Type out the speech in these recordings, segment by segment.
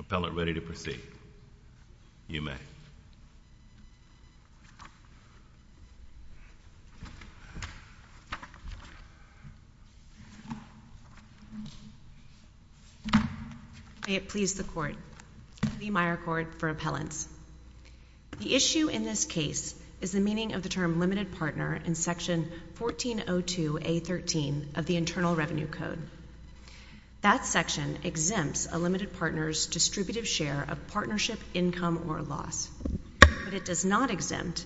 Appellant ready to proceed. You may. May it please the Court. The Meyer Court for Appellants. The issue in this case is the meaning of the term limited partner in Section 1402A.13 of the Internal Revenue Code. That section exempts a limited partner's distributive share of partnership income or loss, but it does not exempt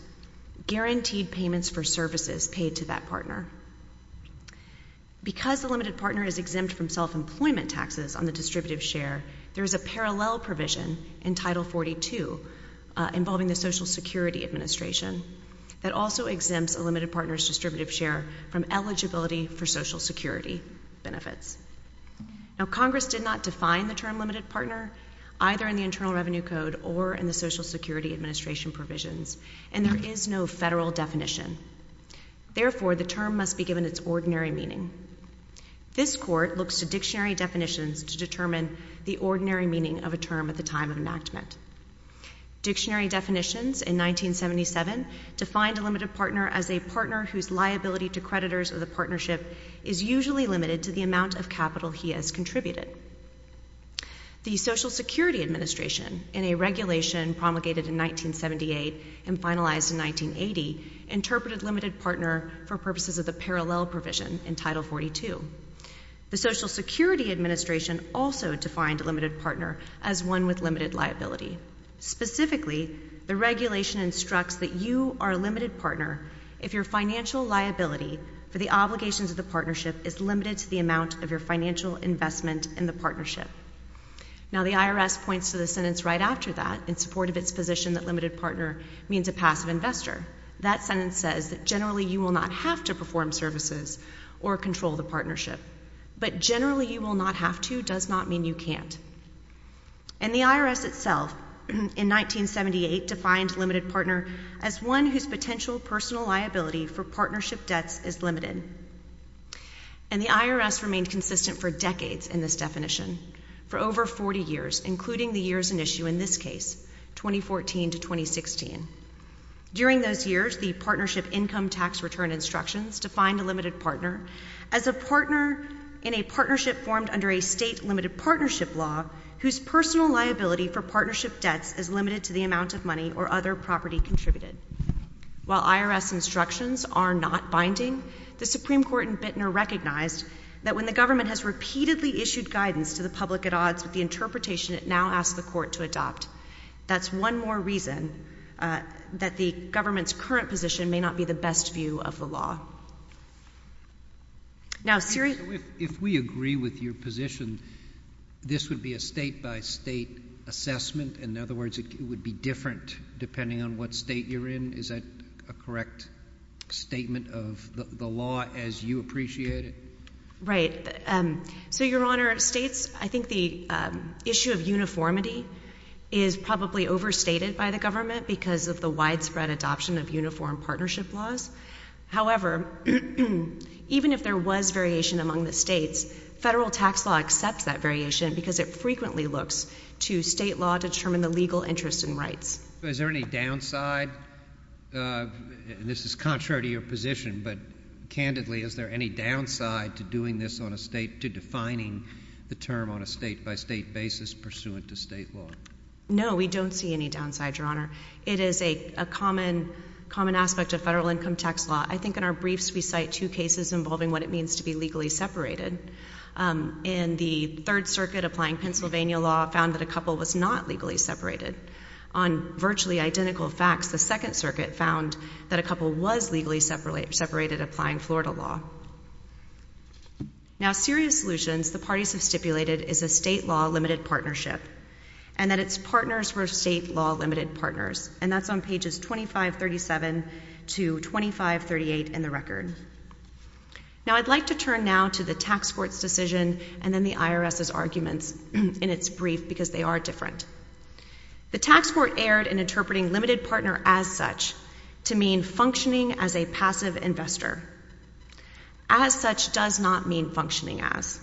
guaranteed payments for services paid to that partner. Because a limited partner is exempt from self-employment taxes on the distributive share, there is a parallel provision in Title 42 involving the Social Security Administration that also exempts a limited partner's distributive share from eligibility for Social Security benefits. Now, Congress did not define the term limited partner, either in the Internal Revenue Code or in the Social Security Administration provisions, and there is no federal definition. Therefore, the term must be given its ordinary meaning. This Court looks to dictionary definitions to determine the ordinary meaning of a term at the time of enactment. Dictionary definitions in 1977 defined a limited partner as a partner whose liability to creditors of the partnership is usually limited to the amount of capital he has contributed. The Social Security Administration, in a regulation promulgated in 1978 and finalized in 1980, interpreted limited partner for purposes of the parallel provision in Title 42. The Social Security Administration also defined a limited partner as one with limited liability. Specifically, the regulation instructs that you are a limited partner if your financial liability for the obligations of the partnership is limited to the amount of your financial investment in the partnership. Now, the IRS points to the sentence right after that in support of its position that limited partner means a passive investor. That sentence says that generally you will not have to perform services or control the partnership, but generally you will not have to does not mean you can't. And the IRS itself, in 1978, defined limited partner as one whose potential personal liability for partnership debts is limited. And the IRS remained consistent for decades in this definition, for over 40 years, including the years in issue in this case, 2014 to 2016. During those years, the Partnership Income Tax Return Instructions defined a limited partner as a partner in a partnership formed under a state limited partnership law whose personal liability for partnership debts is limited to the amount of money or other property contributed. While IRS instructions are not binding, the Supreme Court in Bittner recognized that when the government has repeatedly issued guidance to the public at odds with the interpretation it now asks the court to adopt. That's one more reason that the government's current position may not be the best view of the law. Now, Siri? So if we agree with your position, this would be a state-by-state assessment? In other words, it would be different depending on what state you're in? Is that a correct statement of the law as you appreciate it? MS. HENDRICKS. So uniformity is probably overstated by the government because of the widespread adoption of uniform partnership laws. However, even if there was variation among the states, federal tax law accepts that variation because it frequently looks to state law to determine the legal interest and rights. Is there any downside? And this is contrary to your position, but candidly, is there any downside to doing this on a state, to defining the term on a state-by-state basis pursuant to state law? HENDRICKS. No, we don't see any downside, Your Honor. It is a common aspect of federal income tax law. I think in our briefs we cite two cases involving what it means to be legally separated. In the Third Circuit, applying Pennsylvania law found that a couple was not legally separated. On virtually identical facts, the Second Circuit found that a couple was legally separated applying Florida law. Now, Serious Solutions, the parties have stipulated, is a state law limited partnership and that its partners were state law limited partners, and that's on pages 2537 to 2538 in the record. Now, I'd like to turn now to the tax court's decision and then the IRS's arguments in its brief because they are different. The tax court erred in interpreting limited partner as such to mean functioning as a passive investor. As such does not mean functioning as.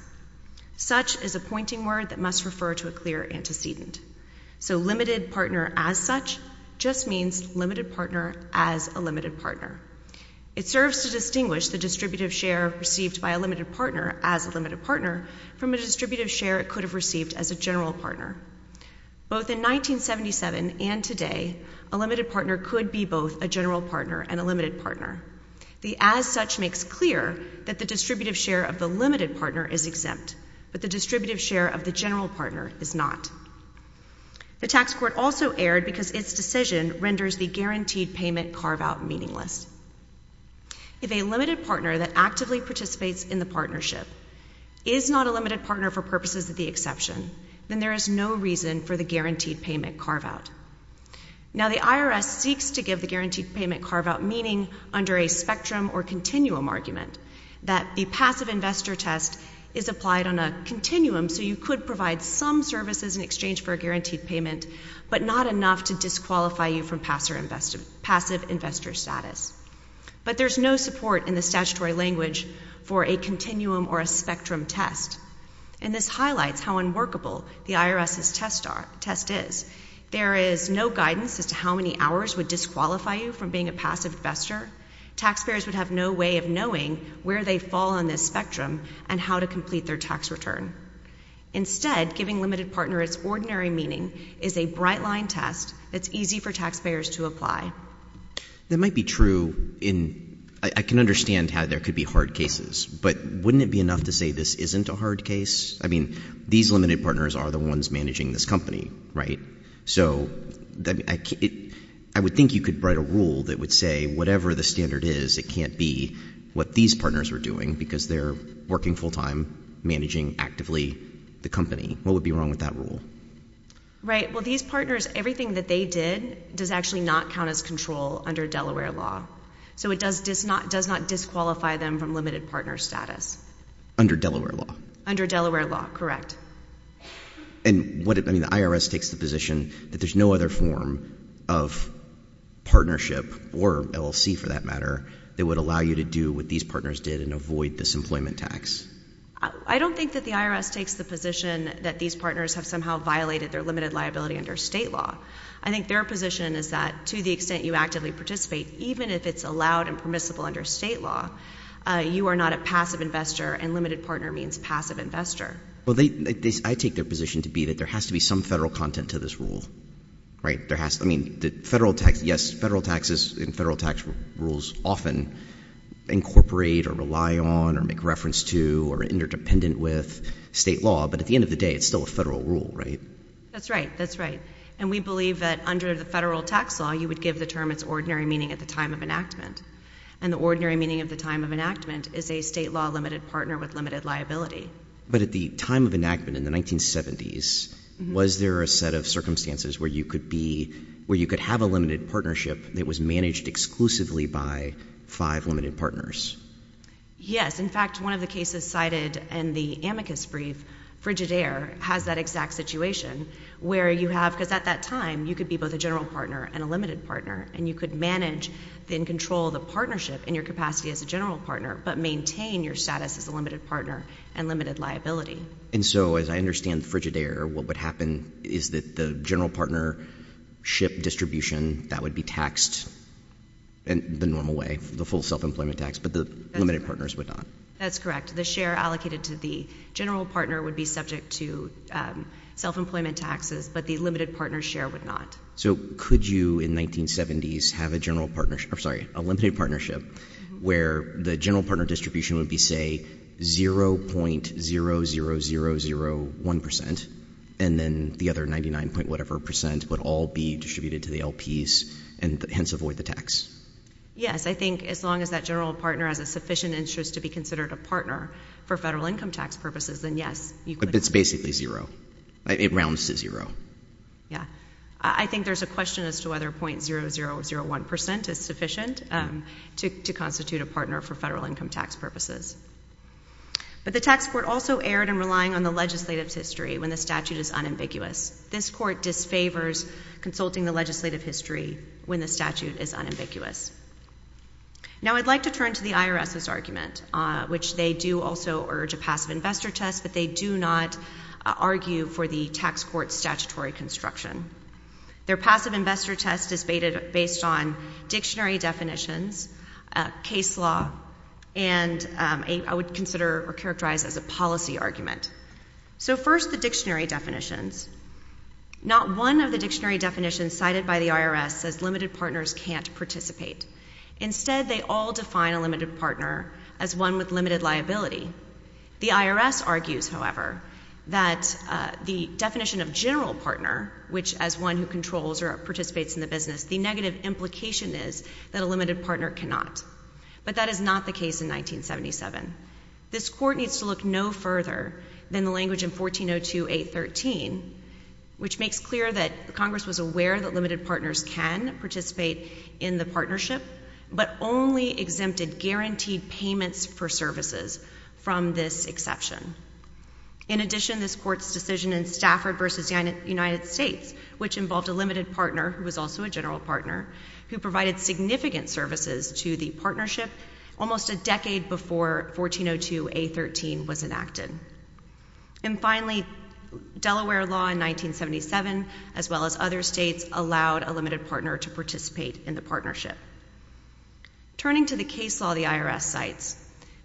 Such is a pointing word that must refer to a clear antecedent. So limited partner as such just means limited partner as a limited partner. It serves to distinguish the distributive share received by a limited partner as a limited partner from a distributive share it could have received as a general partner. Both in 1977 and today, a limited partner could be both a general partner and a limited partner. The as such makes clear that the distributive share of the limited partner is exempt, but the distributive share of the general partner is not. The tax court also erred because its decision renders the guaranteed payment carve out meaningless. If a limited partner that actively participates in the partnership is not a limited partner for purposes of the exception, then there is no reason for the guaranteed payment carve out. Now, the IRS seeks to give the guaranteed payment carve out meaning under a spectrum or continuum argument that the passive investor test is applied on a continuum so you could provide some services in exchange for a guaranteed payment, but not enough to disqualify you from passive investor status. But there's no support in the statutory language for a continuum or a spectrum test. And this highlights how unworkable the IRS's test is. There is no guidance as to how many hours would disqualify you from being a passive investor. Taxpayers would have no way of knowing where they fall on this spectrum and how to complete their tax return. Instead, giving limited partner its ordinary meaning is a bright line test that's easy for taxpayers to apply. That might be true in, I can understand how there could be hard cases, but wouldn't it be enough to say this isn't a hard case? I mean, these limited partners are the ones managing this company, right? So I would think you could write a rule that would say whatever the standard is, it can't be what these partners are doing because they're working full time, managing actively the company. What would be wrong with that rule? Right. Well, these partners, everything that they did does actually not count as control under Delaware law. So it does not disqualify them from limited partner status. Under Delaware law. Under Delaware law. Correct. And what, I mean, the IRS takes the position that there's no other form of partnership or LLC for that matter that would allow you to do what these partners did and avoid this employment tax. I don't think that the IRS takes the position that these partners have somehow violated their limited liability under state law. I think their position is that to the extent you actively participate, even if it's allowed and permissible under state law, you are not a passive investor and limited partner means a passive investor. Well, they, they, I take their position to be that there has to be some federal content to this rule. Right. There has, I mean, the federal tax, yes, federal taxes and federal tax rules often incorporate or rely on or make reference to or interdependent with state law. But at the end of the day, it's still a federal rule, right? That's right. That's right. And we believe that under the federal tax law, you would give the term its ordinary meaning at the time of enactment. And the ordinary meaning of the time of enactment is a state law limited partner with limited liability. But at the time of enactment in the 1970s, was there a set of circumstances where you could be, where you could have a limited partnership that was managed exclusively by five limited partners? Yes. In fact, one of the cases cited in the amicus brief, Frigidaire, has that exact situation where you have, because at that time you could be both a general partner and a limited partner and you could manage and control the partnership in your capacity as a general partner, but maintain your status as a limited partner and limited liability. And so, as I understand Frigidaire, what would happen is that the general partnership distribution, that would be taxed in the normal way, the full self-employment tax, but the limited partners would not? That's correct. The share allocated to the general partner would be subject to self-employment taxes, but the limited partner share would not. So could you, in 1970s, have a general partnership, or sorry, a limited partnership where the general partner distribution would be, say, 0.00001%, and then the other 99-point-whatever percent would all be distributed to the LPs and hence avoid the tax? Yes. I think as long as that general partner has a sufficient interest to be considered a partner for federal income tax purposes, then yes, you could. But it's basically zero. It rounds to zero. Yeah. I think there's a question as to whether 0.0001% is sufficient to constitute a partner for federal income tax purposes. But the tax court also erred in relying on the legislative's history when the statute is unambiguous. This court disfavors consulting the legislative history when the statute is unambiguous. Now I'd like to turn to the IRS's argument, which they do also urge a passive investor test, but they do not argue for the tax court's statutory construction. Their passive investor test is based on dictionary definitions, case law, and I would consider or characterize as a policy argument. So first the dictionary definitions. Not one of the dictionary definitions cited by the IRS says limited partners can't participate. Instead they all define a limited partner as one with limited liability. The IRS argues, however, that the definition of general partner, which as one who controls or participates in the business, the negative implication is that a limited partner cannot. But that is not the case in 1977. This court needs to look no further than the language in 1402A.13, which makes clear that Congress was aware that limited partners can participate in the partnership, but only exempted guaranteed payments for services from this exception. In addition, this court's decision in Stafford v. United States, which involved a limited partner, who was also a general partner, who provided significant services to the partnership almost a decade before 1402A.13 was enacted. And finally, Delaware law in 1977, as well as other states, allowed a limited partner to participate in the partnership. Turning to the case law the IRS cites,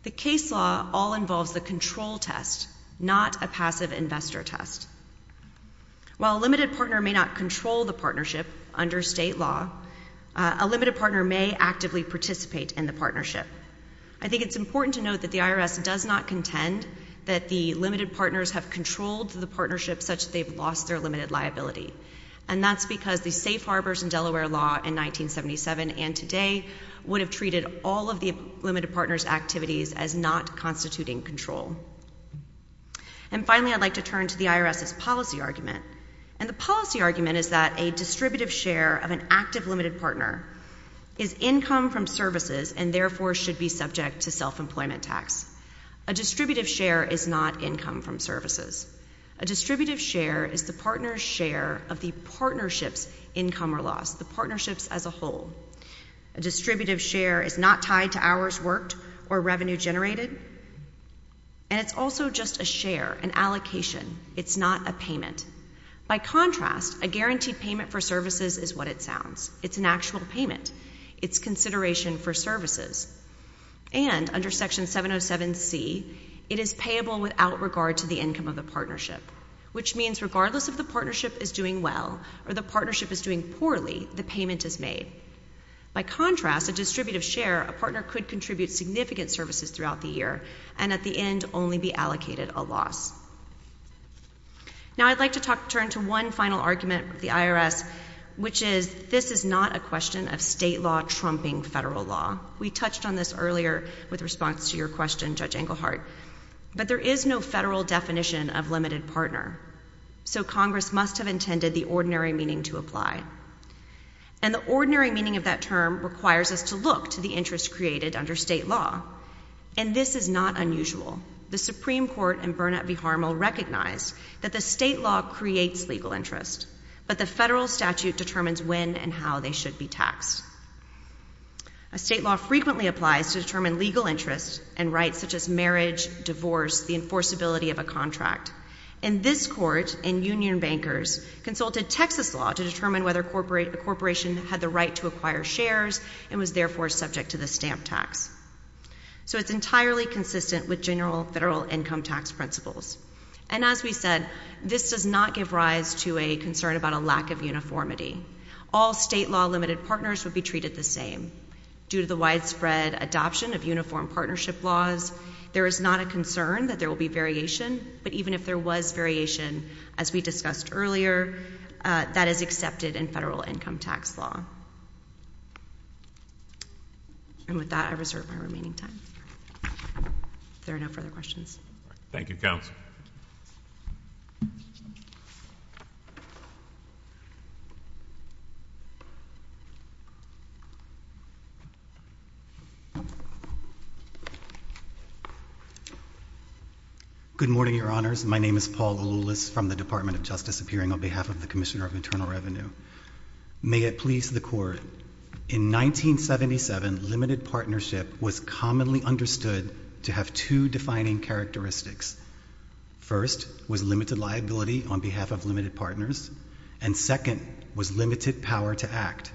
the case law all involves the control test, not a passive investor test. While a limited partner may not control the partnership under state law, a limited partner may actively participate in the partnership. I think it's important to note that the IRS does not contend that the limited partners have controlled the partnership such that they've lost their limited liability. And that's because the safe harbors in Delaware law in 1977 and today would have treated all of the limited partners' activities as not constituting control. And finally, I'd like to turn to the IRS's policy argument. And the policy argument is that a distributive share of an active limited partner is income from services and therefore should be subject to self-employment tax. A distributive share is not income from services. A distributive share is the partner's share of the partnership's income or loss, the partnership's as a whole. A distributive share is not tied to hours worked or revenue generated. And it's also just a share, an allocation. It's not a payment. By contrast, a guaranteed payment for services is what it sounds. It's an actual payment. It's consideration for services. And under Section 707C, it is payable without regard to the income of the partnership, which means regardless if the partnership is doing well or the partnership is doing poorly, the payment is made. By contrast, a distributive share, a partner could contribute significant services throughout the year and at the end only be allocated a loss. Now, I'd like to turn to one final argument with the IRS, which is this is not a question of state law trumping federal law. We touched on this earlier with response to your question, Judge Engelhardt. But there is no federal definition of limited partner. So Congress must have intended the ordinary meaning to apply. And the ordinary meaning of that term requires us to look to the interest created under state law. And this is not unusual. The Supreme Court and Burnett v. Harmel recognized that the state law creates legal interest, but the federal statute determines when and how they should be taxed. A state law frequently applies to determine legal interest and rights such as marriage, divorce, the enforceability of a contract. And this Court and union bankers consulted Texas law to determine whether a corporation had the right to acquire shares and was therefore subject to the stamp tax. So it's entirely consistent with general federal income tax principles. And as we said, this does not give rise to a concern about a lack of uniformity. All state law limited partners would be treated the same. Due to the widespread adoption of uniform partnership laws, there is not a concern that there will be variation. But even if there was variation, as we discussed earlier, that is accepted in federal income tax law. And with that, I reserve my remaining time. If there are no further questions. Thank you, Counsel. Good morning, your honors. My name is Paul Lulis from the Department of Justice, appearing on behalf of the Commissioner of Internal Revenue. May it please the court, in 1977, limited partnership was commonly understood to have two defining characteristics. First, was limited liability on behalf of limited partners. And second, was limited power to act.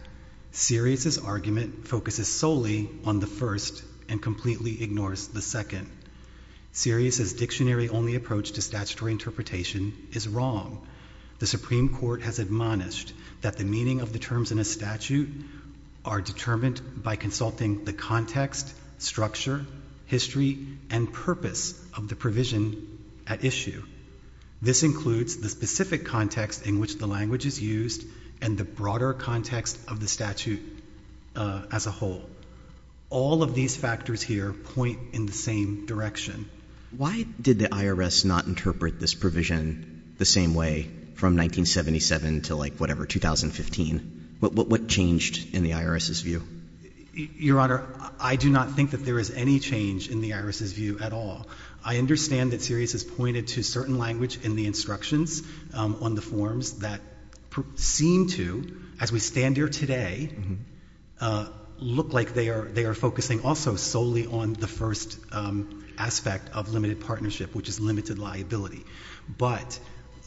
Sirius's argument focuses solely on the first and completely ignores the second. Sirius's dictionary only approach to statutory interpretation is wrong. The Supreme Court has admonished that the meaning of the terms in a statute are determined by consulting the context, structure, history, and purpose of the provision at issue. This includes the specific context in which the language is used and the broader context of the statute as a whole. All of these factors here point in the same direction. Why did the IRS not interpret this provision the same way from 1977 to like whatever, 2015? What changed in the IRS's view? Your honor, I do not think that there is any change in the IRS's view at all. I understand that Sirius has pointed to certain language in the instructions on the forms that seem to, as we stand here today, look like they are focusing also solely on the first aspect of limited partnership, which is limited liability. But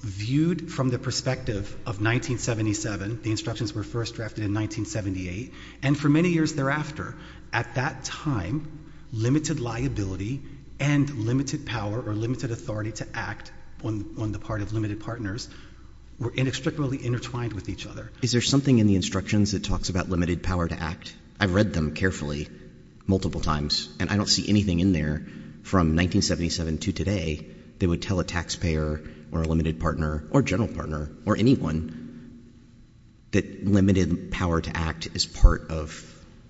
viewed from the perspective of 1977, the instructions were first drafted in 1978, and for many years thereafter, at that time, limited liability and limited power or limited authority to act on the part of limited partners were inextricably intertwined with each other. Is there something in the instructions that talks about limited power to act? I've read them carefully multiple times, and I don't see anything in there from 1977 to today that would tell a taxpayer or a limited partner or general partner or anyone that limited power to act is part of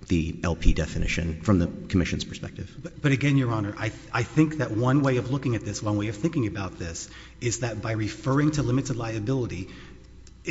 the LP definition from the commission's perspective. But again, your honor, I think that one way of looking at this, one way of thinking about this, is that by referring to limited liability,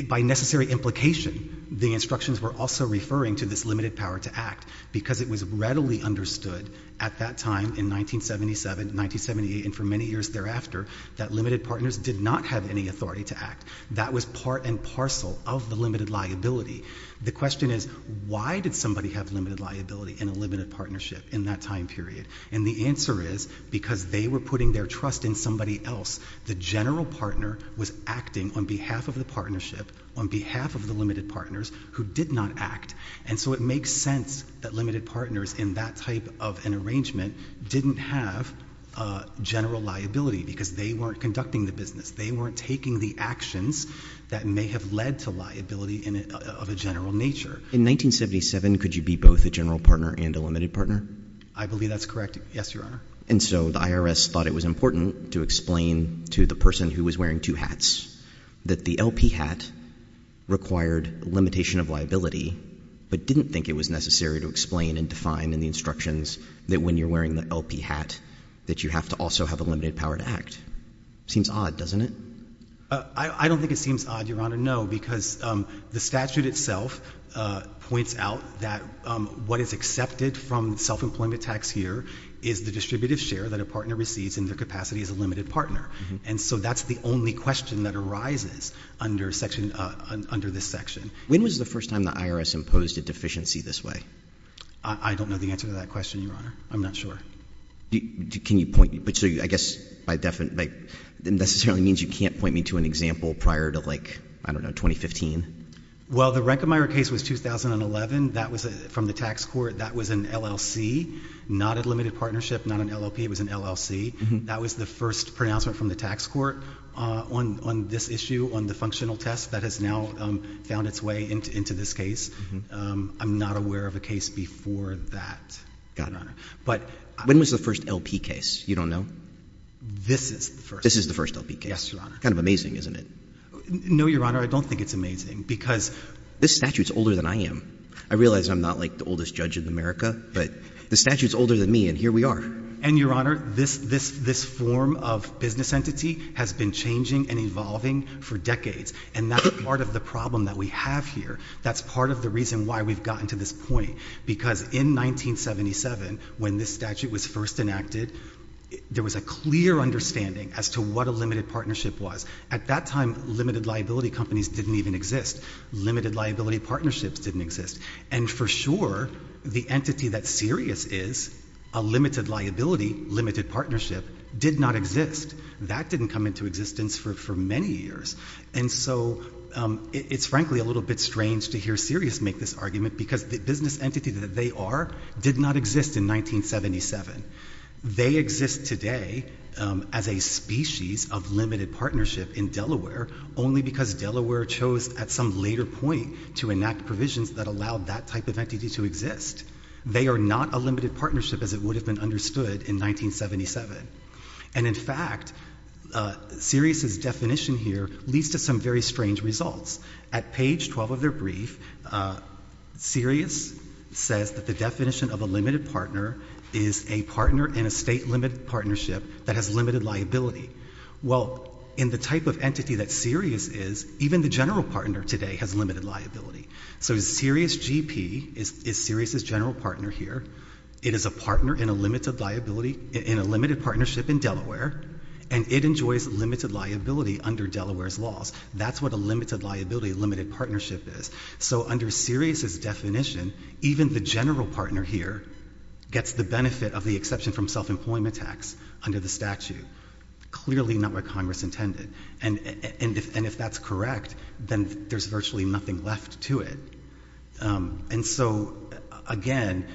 by necessary implication, the instructions were also referring to this limited power to act because it was readily understood at that time in 1977, 1978, and for many years thereafter, that limited partners did not have any authority to act. That was part and parcel of the limited liability. The question is, why did somebody have limited liability in a limited partnership in that time period? And the answer is, because they were putting their trust in somebody else. The general partner was acting on behalf of the partnership, on behalf of the limited partners, who did not act. And so it makes sense that limited partners in that type of an arrangement didn't have general liability because they weren't conducting the business. They weren't taking the actions that may have led to liability of a general nature. In 1977, could you be both a general partner and a limited partner? I believe that's correct. Yes, your honor. And so the IRS thought it was important to explain to the person who was wearing two hats that the LP hat required limitation of liability, but didn't think it was necessary to explain and define in the instructions that when you're wearing the LP hat, that you have to also have a limited power to act. Seems odd, doesn't it? I don't think it seems odd, your honor, no, because the statute itself points out that what is accepted from self-employment tax here is the distributive share that a partner receives in their capacity as a limited partner. And so that's the only question that arises under this section. When was the first time the IRS imposed a deficiency this way? I don't know the answer to that question, your honor. I'm not sure. Can you point me, which I guess necessarily means you can't point me to an example prior to like, I don't know, 2015? Well, the Rankemeyer case was 2011, that was from the tax court, that was an LLC. Not a limited partnership, not an LLP, it was an LLC. That was the first pronouncement from the tax court on this issue, on the functional test that has now found its way into this case. I'm not aware of a case before that, your honor. But- When was the first LP case? You don't know? This is the first. This is the first LP case. Yes, your honor. Kind of amazing, isn't it? No, your honor, I don't think it's amazing because- This statute's older than I am. I realize I'm not like the oldest judge in America, but the statute's older than me and here we are. And your honor, this form of business entity has been changing and evolving for decades. And that's part of the problem that we have here. That's part of the reason why we've gotten to this point. Because in 1977, when this statute was first enacted, there was a clear understanding as to what a limited partnership was. At that time, limited liability companies didn't even exist. Limited liability partnerships didn't exist. And for sure, the entity that Sirius is, a limited liability, limited partnership, did not exist. That didn't come into existence for many years. And so, it's frankly a little bit strange to hear Sirius make this argument, because the business entity that they are did not exist in 1977. They exist today as a species of limited partnership in Delaware, only because Delaware chose at some later point to enact provisions that allowed that type of entity to exist. They are not a limited partnership as it would have been understood in 1977. And in fact, Sirius's definition here leads to some very strange results. At page 12 of their brief, Sirius says that the definition of a limited partner is a partner in a state limited partnership that has limited liability. Well, in the type of entity that Sirius is, even the general partner today has limited liability. So Sirius GP is Sirius's general partner here. It is a partner in a limited partnership in Delaware, and it enjoys limited liability under Delaware's laws. That's what a limited liability, a limited partnership is. So under Sirius's definition, even the general partner here gets the benefit of the exception from self-employment tax under the statute. Clearly not what Congress intended. And if that's correct, then there's virtually nothing left to it. And so, again,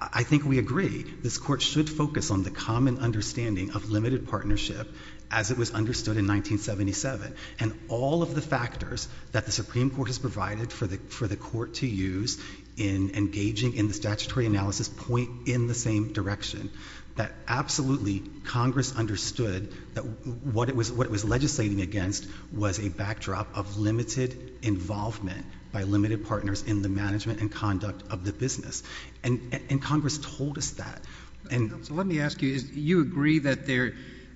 I think we agree. This court should focus on the common understanding of limited partnership as it was understood in 1977. And all of the factors that the Supreme Court has provided for the court to use in engaging in the statutory analysis point in the same direction. That absolutely, Congress understood that what it was legislating against was a backdrop of limited involvement by limited partners in the management and conduct of the business. And Congress told us that. And- So let me ask you, you agree that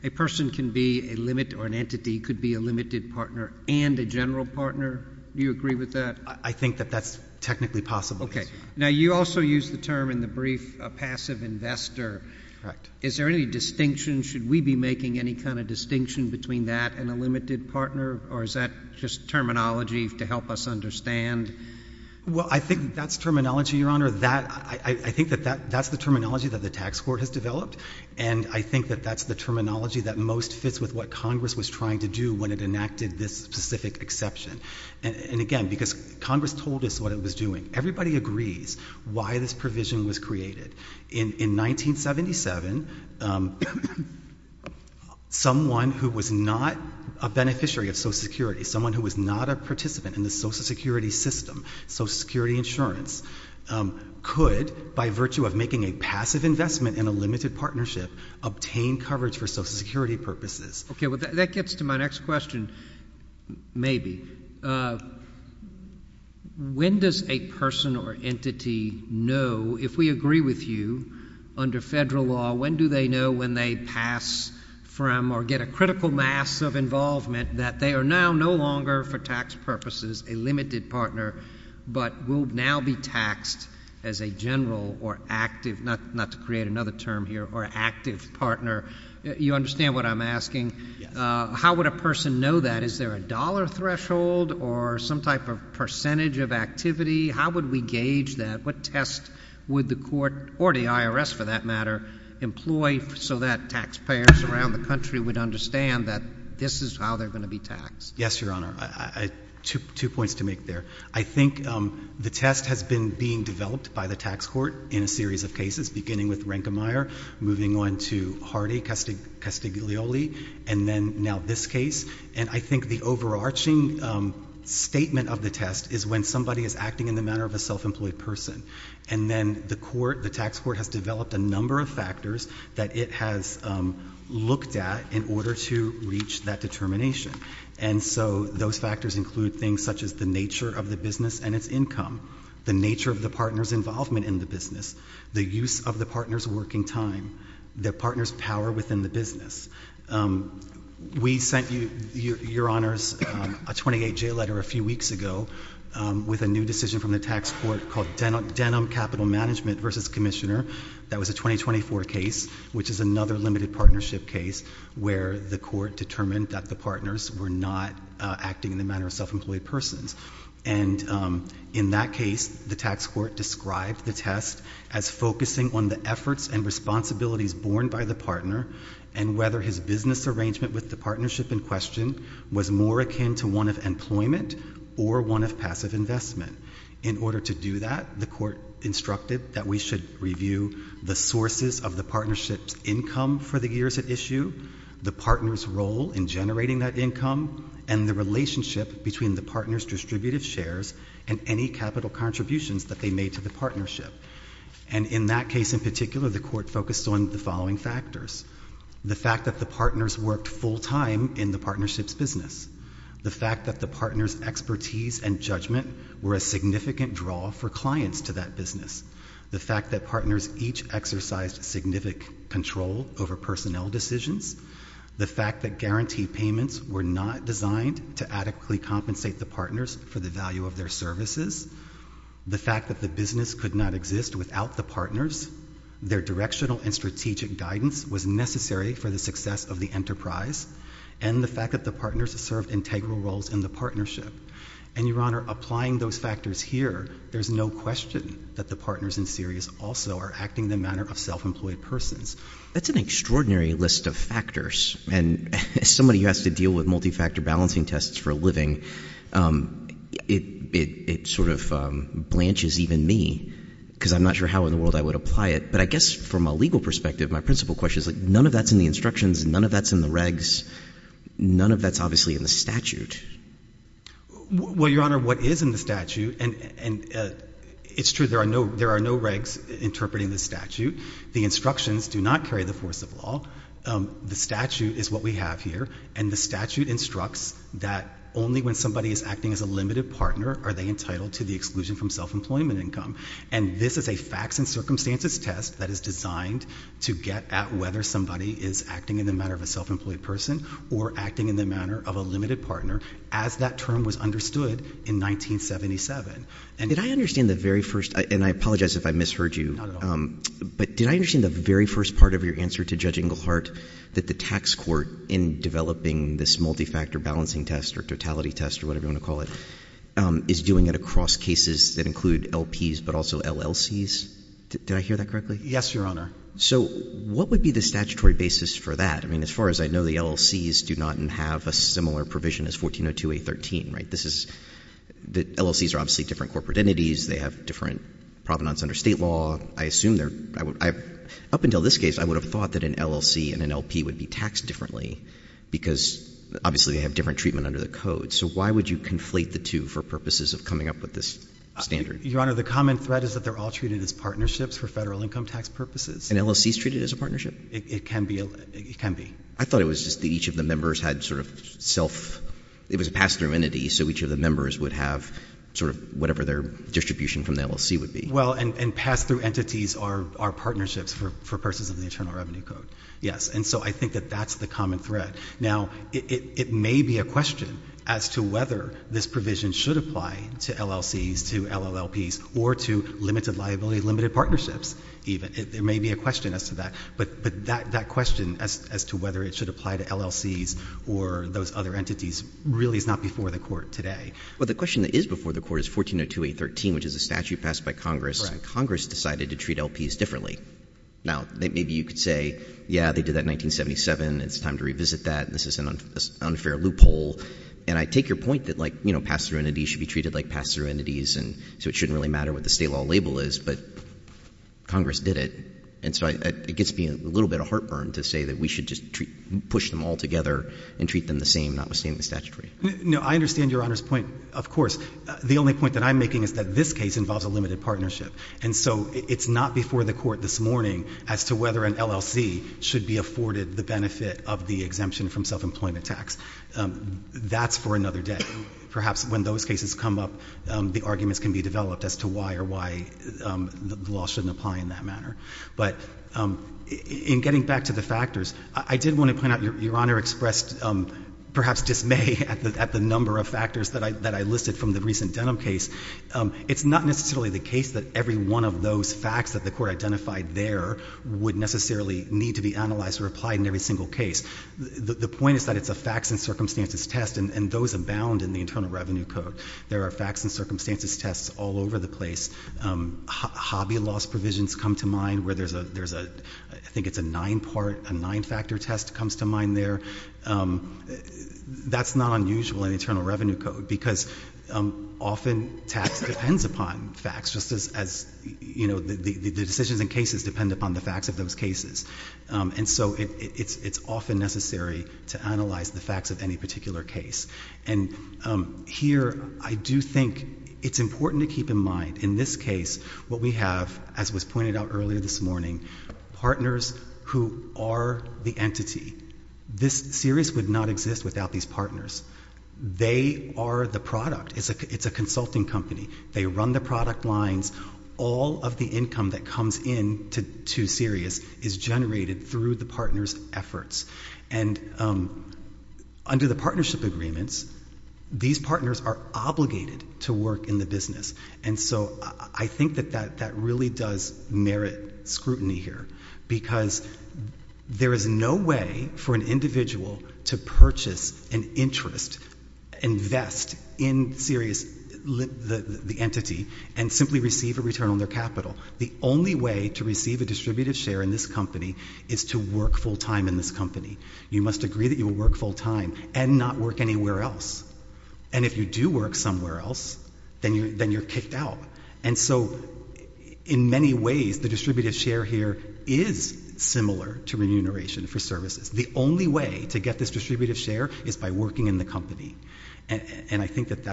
a person can be a limit or an entity could be a limited partner and a general partner? Do you agree with that? I think that that's technically possible. Now you also used the term in the brief, a passive investor. Correct. Is there any distinction? Should we be making any kind of distinction between that and a limited partner? Or is that just terminology to help us understand? Well, I think that's terminology, Your Honor. That, I think that that's the terminology that the tax court has developed. And I think that that's the terminology that most fits with what Congress was trying to do when it enacted this specific exception. And again, because Congress told us what it was doing. Everybody agrees why this provision was created. In 1977, someone who was not a beneficiary of social security, someone who was not a participant in the social security system, social security insurance, could, by virtue of making a passive investment in a limited partnership, obtain coverage for social security purposes. Okay. Well, that gets to my next question, maybe. When does a person or entity know, if we agree with you, under federal law, when do they know when they pass from or get a critical mass of involvement that they are now no longer, for tax purposes, a limited partner, but will now be taxed as a general or active, not to create another term here, or active partner? You understand what I'm asking? How would a person know that? Is there a dollar threshold or some type of percentage of activity? How would we gauge that? What test would the court, or the IRS for that matter, employ so that taxpayers around the country would understand that this is how they're going to be taxed? Yes, Your Honor. Two points to make there. I think the test has been being developed by the tax court in a series of cases, beginning with Rankemeyer, moving on to Hardy, Castiglioli, and then now this case. And I think the overarching statement of the test is when somebody is acting in the manner of a self-employed person. And then the tax court has developed a number of factors that it has looked at in order to reach that determination. And so those factors include things such as the nature of the business and its income. The nature of the partner's involvement in the business. The use of the partner's working time. The partner's power within the business. We sent you, Your Honors, a 28-J letter a few weeks ago with a new decision from the tax court called Denim Capital Management versus Commissioner. That was a 2024 case, which is another limited partnership case where the court determined that the partners were not acting in the manner of self-employed persons. And in that case, the tax court described the test as focusing on the efforts and responsibilities borne by the partner and whether his business arrangement with the partnership in question was more akin to one of employment or one of passive investment. In order to do that, the court instructed that we should review the sources of the partnership's income for the years at issue, the partner's role in generating that income, and the relationship between the partner's distributive shares and any capital contributions that they made to the partnership. And in that case in particular, the court focused on the following factors. The fact that the partners worked full time in the partnership's business. The fact that the partner's expertise and judgment were a significant draw for clients to that business. The fact that partners each exercised significant control over personnel decisions. The fact that guarantee payments were not designed to adequately compensate the partners for the value of their services. The fact that the business could not exist without the partners. Their directional and strategic guidance was necessary for the success of the enterprise. And the fact that the partners served integral roles in the partnership. And Your Honor, applying those factors here, there's no question that the partners in series also are acting in the manner of self-employed persons. That's an extraordinary list of factors. And as somebody who has to deal with multi-factor balancing tests for a living, it sort of blanches even me, because I'm not sure how in the world I would apply it. But I guess from a legal perspective, my principal question is, none of that's in the instructions, none of that's in the regs. None of that's obviously in the statute. Well, Your Honor, what is in the statute, and it's true, there are no regs interpreting the statute. The instructions do not carry the force of law. The statute is what we have here. And the statute instructs that only when somebody is acting as a limited partner are they entitled to the exclusion from self-employment income. And this is a facts and circumstances test that is designed to get at whether somebody is acting in the manner of a self-employed person, or acting in the manner of a limited partner, as that term was understood in 1977. And did I understand the very first, and I apologize if I misheard you. But did I understand the very first part of your answer to Judge Englehart, that the tax court in developing this multi-factor balancing test, or totality test, or whatever you want to call it, is doing it across cases that include LPs, but also LLCs? Did I hear that correctly? Yes, Your Honor. So, what would be the statutory basis for that? I mean, as far as I know, the LLCs do not have a similar provision as 1402A13, right? This is, the LLCs are obviously different corporate entities, they have different provenance under state law. I assume they're, up until this case, I would have thought that an LLC and an LP would be taxed differently. Because obviously they have different treatment under the code. So why would you conflate the two for purposes of coming up with this standard? Your Honor, the common thread is that they're all treated as partnerships for federal income tax purposes. And LLCs treated as a partnership? It can be, it can be. I thought it was just that each of the members had sort of self, it was a pass-through entity, so each of the members would have sort of whatever their distribution from the LLC would be. Well, and pass-through entities are partnerships for persons of the Internal Revenue Code. Yes, and so I think that that's the common thread. Now, it may be a question as to whether this provision should apply to LLCs, to LLPs, or to limited liability, limited partnerships. There may be a question as to that. But that question as to whether it should apply to LLCs or those other entities really is not before the court today. Well, the question that is before the court is 1402A13, which is a statute passed by Congress. Congress decided to treat LPs differently. Now, maybe you could say, yeah, they did that in 1977, it's time to revisit that, and this is an unfair loophole. And I take your point that pass-through entities should be treated like pass-through entities, and so it shouldn't really matter what the state law label is. But Congress did it, and so it gets me a little bit of heartburn to say that we should just push them all together and treat them the same, not withstanding the statutory. No, I understand your Honor's point, of course. The only point that I'm making is that this case involves a limited partnership. And so it's not before the court this morning as to whether an LLC should be afforded the benefit of the exemption from self-employment tax. That's for another day. Perhaps when those cases come up, the arguments can be developed as to why or why the law shouldn't apply in that manner. But in getting back to the factors, I did want to point out your Honor expressed perhaps dismay at the number of factors that I listed from the recent Denham case. It's not necessarily the case that every one of those facts that the court identified there would necessarily need to be analyzed or applied in every single case. The point is that it's a facts and circumstances test, and those abound in the Internal Revenue Code. There are facts and circumstances tests all over the place. Hobby loss provisions come to mind where there's a, I think it's a nine part, a nine factor test comes to mind there. That's not unusual in Internal Revenue Code, because often tax depends upon facts, just as the decisions and cases depend upon the facts of those cases. And so it's often necessary to analyze the facts of any particular case. And here, I do think it's important to keep in mind, in this case, what we have, as was pointed out earlier this morning, partners who are the entity. This series would not exist without these partners. They are the product. It's a consulting company. They run the product lines. All of the income that comes in to Sirius is generated through the partner's efforts. And under the partnership agreements, these partners are obligated to work in the business. And so I think that that really does merit scrutiny here, because there is no way for an individual to purchase an interest, invest in Sirius, the entity, and simply receive a return on their capital. The only way to receive a distributive share in this company is to work full time in this company. You must agree that you will work full time and not work anywhere else. And if you do work somewhere else, then you're kicked out. And so in many ways, the distributive share here is similar to remuneration for services. The only way to get this distributive share is by working in the company. And I think that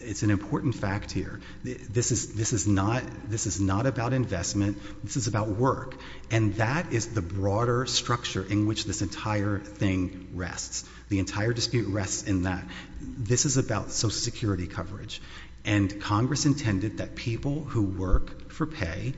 it's an important fact here. This is not about investment. This is about work. And that is the broader structure in which this entire thing rests. The entire dispute rests in that. This is about social security coverage. And Congress intended that people who work for pay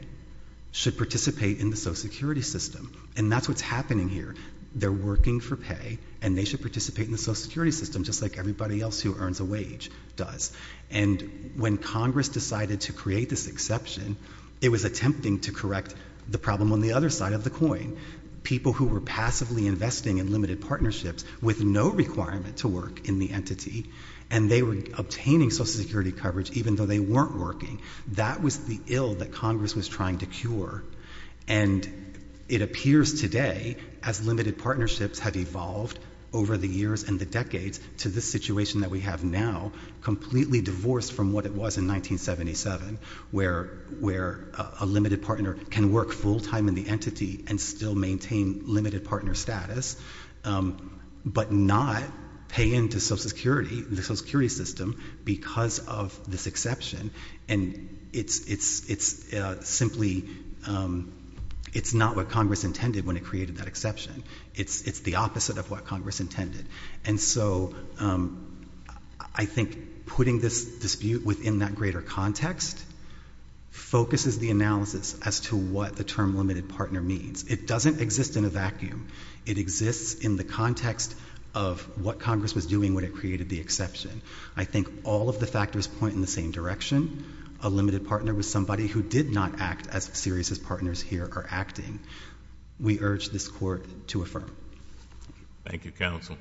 should participate in the social security system. And that's what's happening here. They're working for pay, and they should participate in the social security system, just like everybody else who earns a wage does. And when Congress decided to create this exception, it was attempting to correct the problem on the other side of the coin. People who were passively investing in limited partnerships with no requirement to work in the entity, and they were obtaining social security coverage even though they weren't working. That was the ill that Congress was trying to cure. And it appears today, as limited partnerships have evolved over the years and the decades to this situation that we have now, completely divorced from what it was in 1977. Where a limited partner can work full time in the entity and still maintain limited partner status, but not pay into social security, the social security system, because of this exception. And it's simply, it's not what Congress intended when it created that exception. It's the opposite of what Congress intended. And so, I think putting this dispute within that greater context focuses the analysis as to what the term limited partner means. It doesn't exist in a vacuum. It exists in the context of what Congress was doing when it created the exception. I think all of the factors point in the same direction. A limited partner was somebody who did not act as serious as partners here are acting. We urge this court to affirm. Thank you, counsel.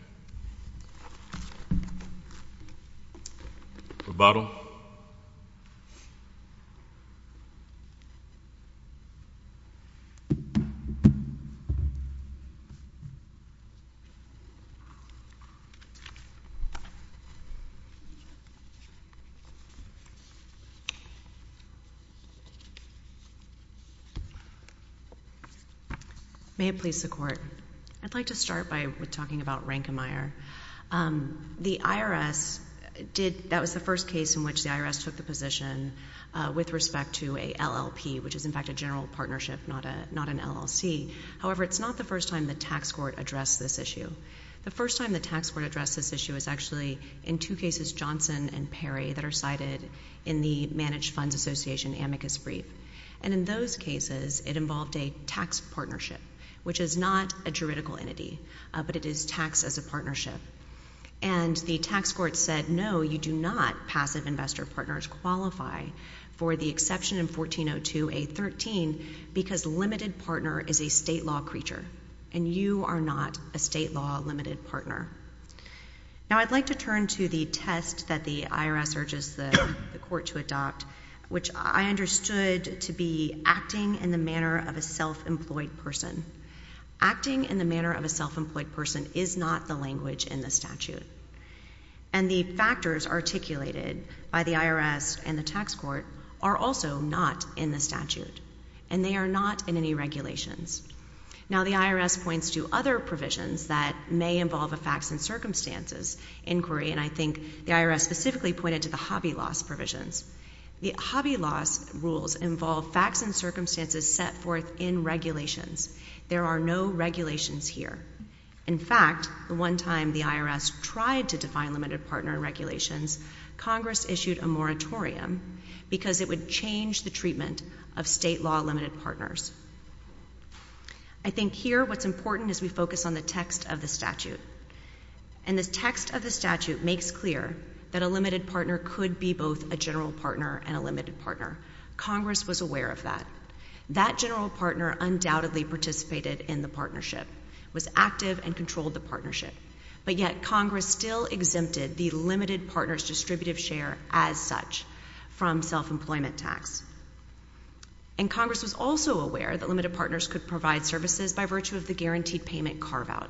Rebuttal. May it please the court. I'd like to start by talking about Rankemeyer. The IRS did, that was the first case in which the IRS took the position with respect to a LLP, which is in fact a general partnership, not an LLC. However, it's not the first time the tax court addressed this issue. The first time the tax court addressed this issue is actually in two cases, Johnson and Perry, that are cited in the Managed Funds Association amicus brief. And in those cases, it involved a tax partnership, which is not a juridical entity, but it is taxed as a partnership. And the tax court said, no, you do not, passive investor partners, qualify for the exception in 1402A13, because limited partner is a state law creature. And you are not a state law limited partner. Now, I'd like to turn to the test that the IRS urges the court to adopt, which I understood to be acting in the manner of a self-employed person. Acting in the manner of a self-employed person is not the language in the statute. And the factors articulated by the IRS and the tax court are also not in the statute, and they are not in any regulations. Now, the IRS points to other provisions that may involve a facts and circumstances inquiry, and I think the IRS specifically pointed to the hobby loss provisions. The hobby loss rules involve facts and circumstances set forth in regulations. There are no regulations here. In fact, the one time the IRS tried to define limited partner regulations, Congress issued a moratorium because it would change the treatment of state law limited partners. I think here, what's important is we focus on the text of the statute. And the text of the statute makes clear that a limited partner could be both a general partner and a limited partner. Congress was aware of that. That general partner undoubtedly participated in the partnership, was active and controlled the partnership. But yet, Congress still exempted the limited partner's distributive share as such from self-employment tax. And Congress was also aware that limited partners could provide services by virtue of the guaranteed payment carve-out.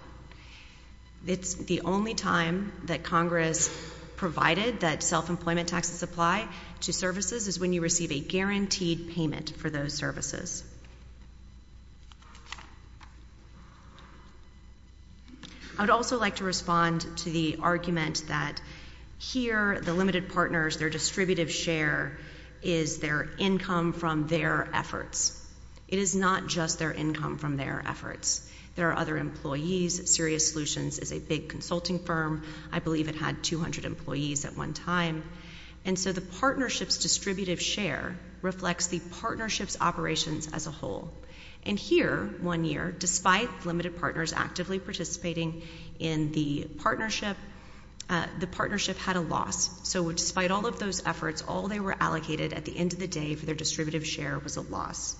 It's the only time that Congress provided that self-employment taxes apply to services is when you receive a guaranteed payment for those services. I would also like to respond to the argument that here, the limited partners, their distributive share is their income from their efforts. It is not just their income from their efforts. There are other employees, Serious Solutions is a big consulting firm. I believe it had 200 employees at one time. And so the partnership's distributive share reflects the partnership's operations as a whole. And here, one year, despite limited partners actively participating in the partnership, the partnership had a loss. So despite all of those efforts, all they were allocated at the end of the day for their distributive share was a loss.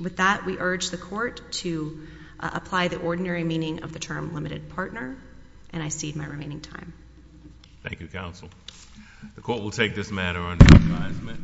With that, we urge the court to apply the ordinary meaning of the term limited partner, and I cede my remaining time. Thank you, counsel. The court will take this matter under advisement.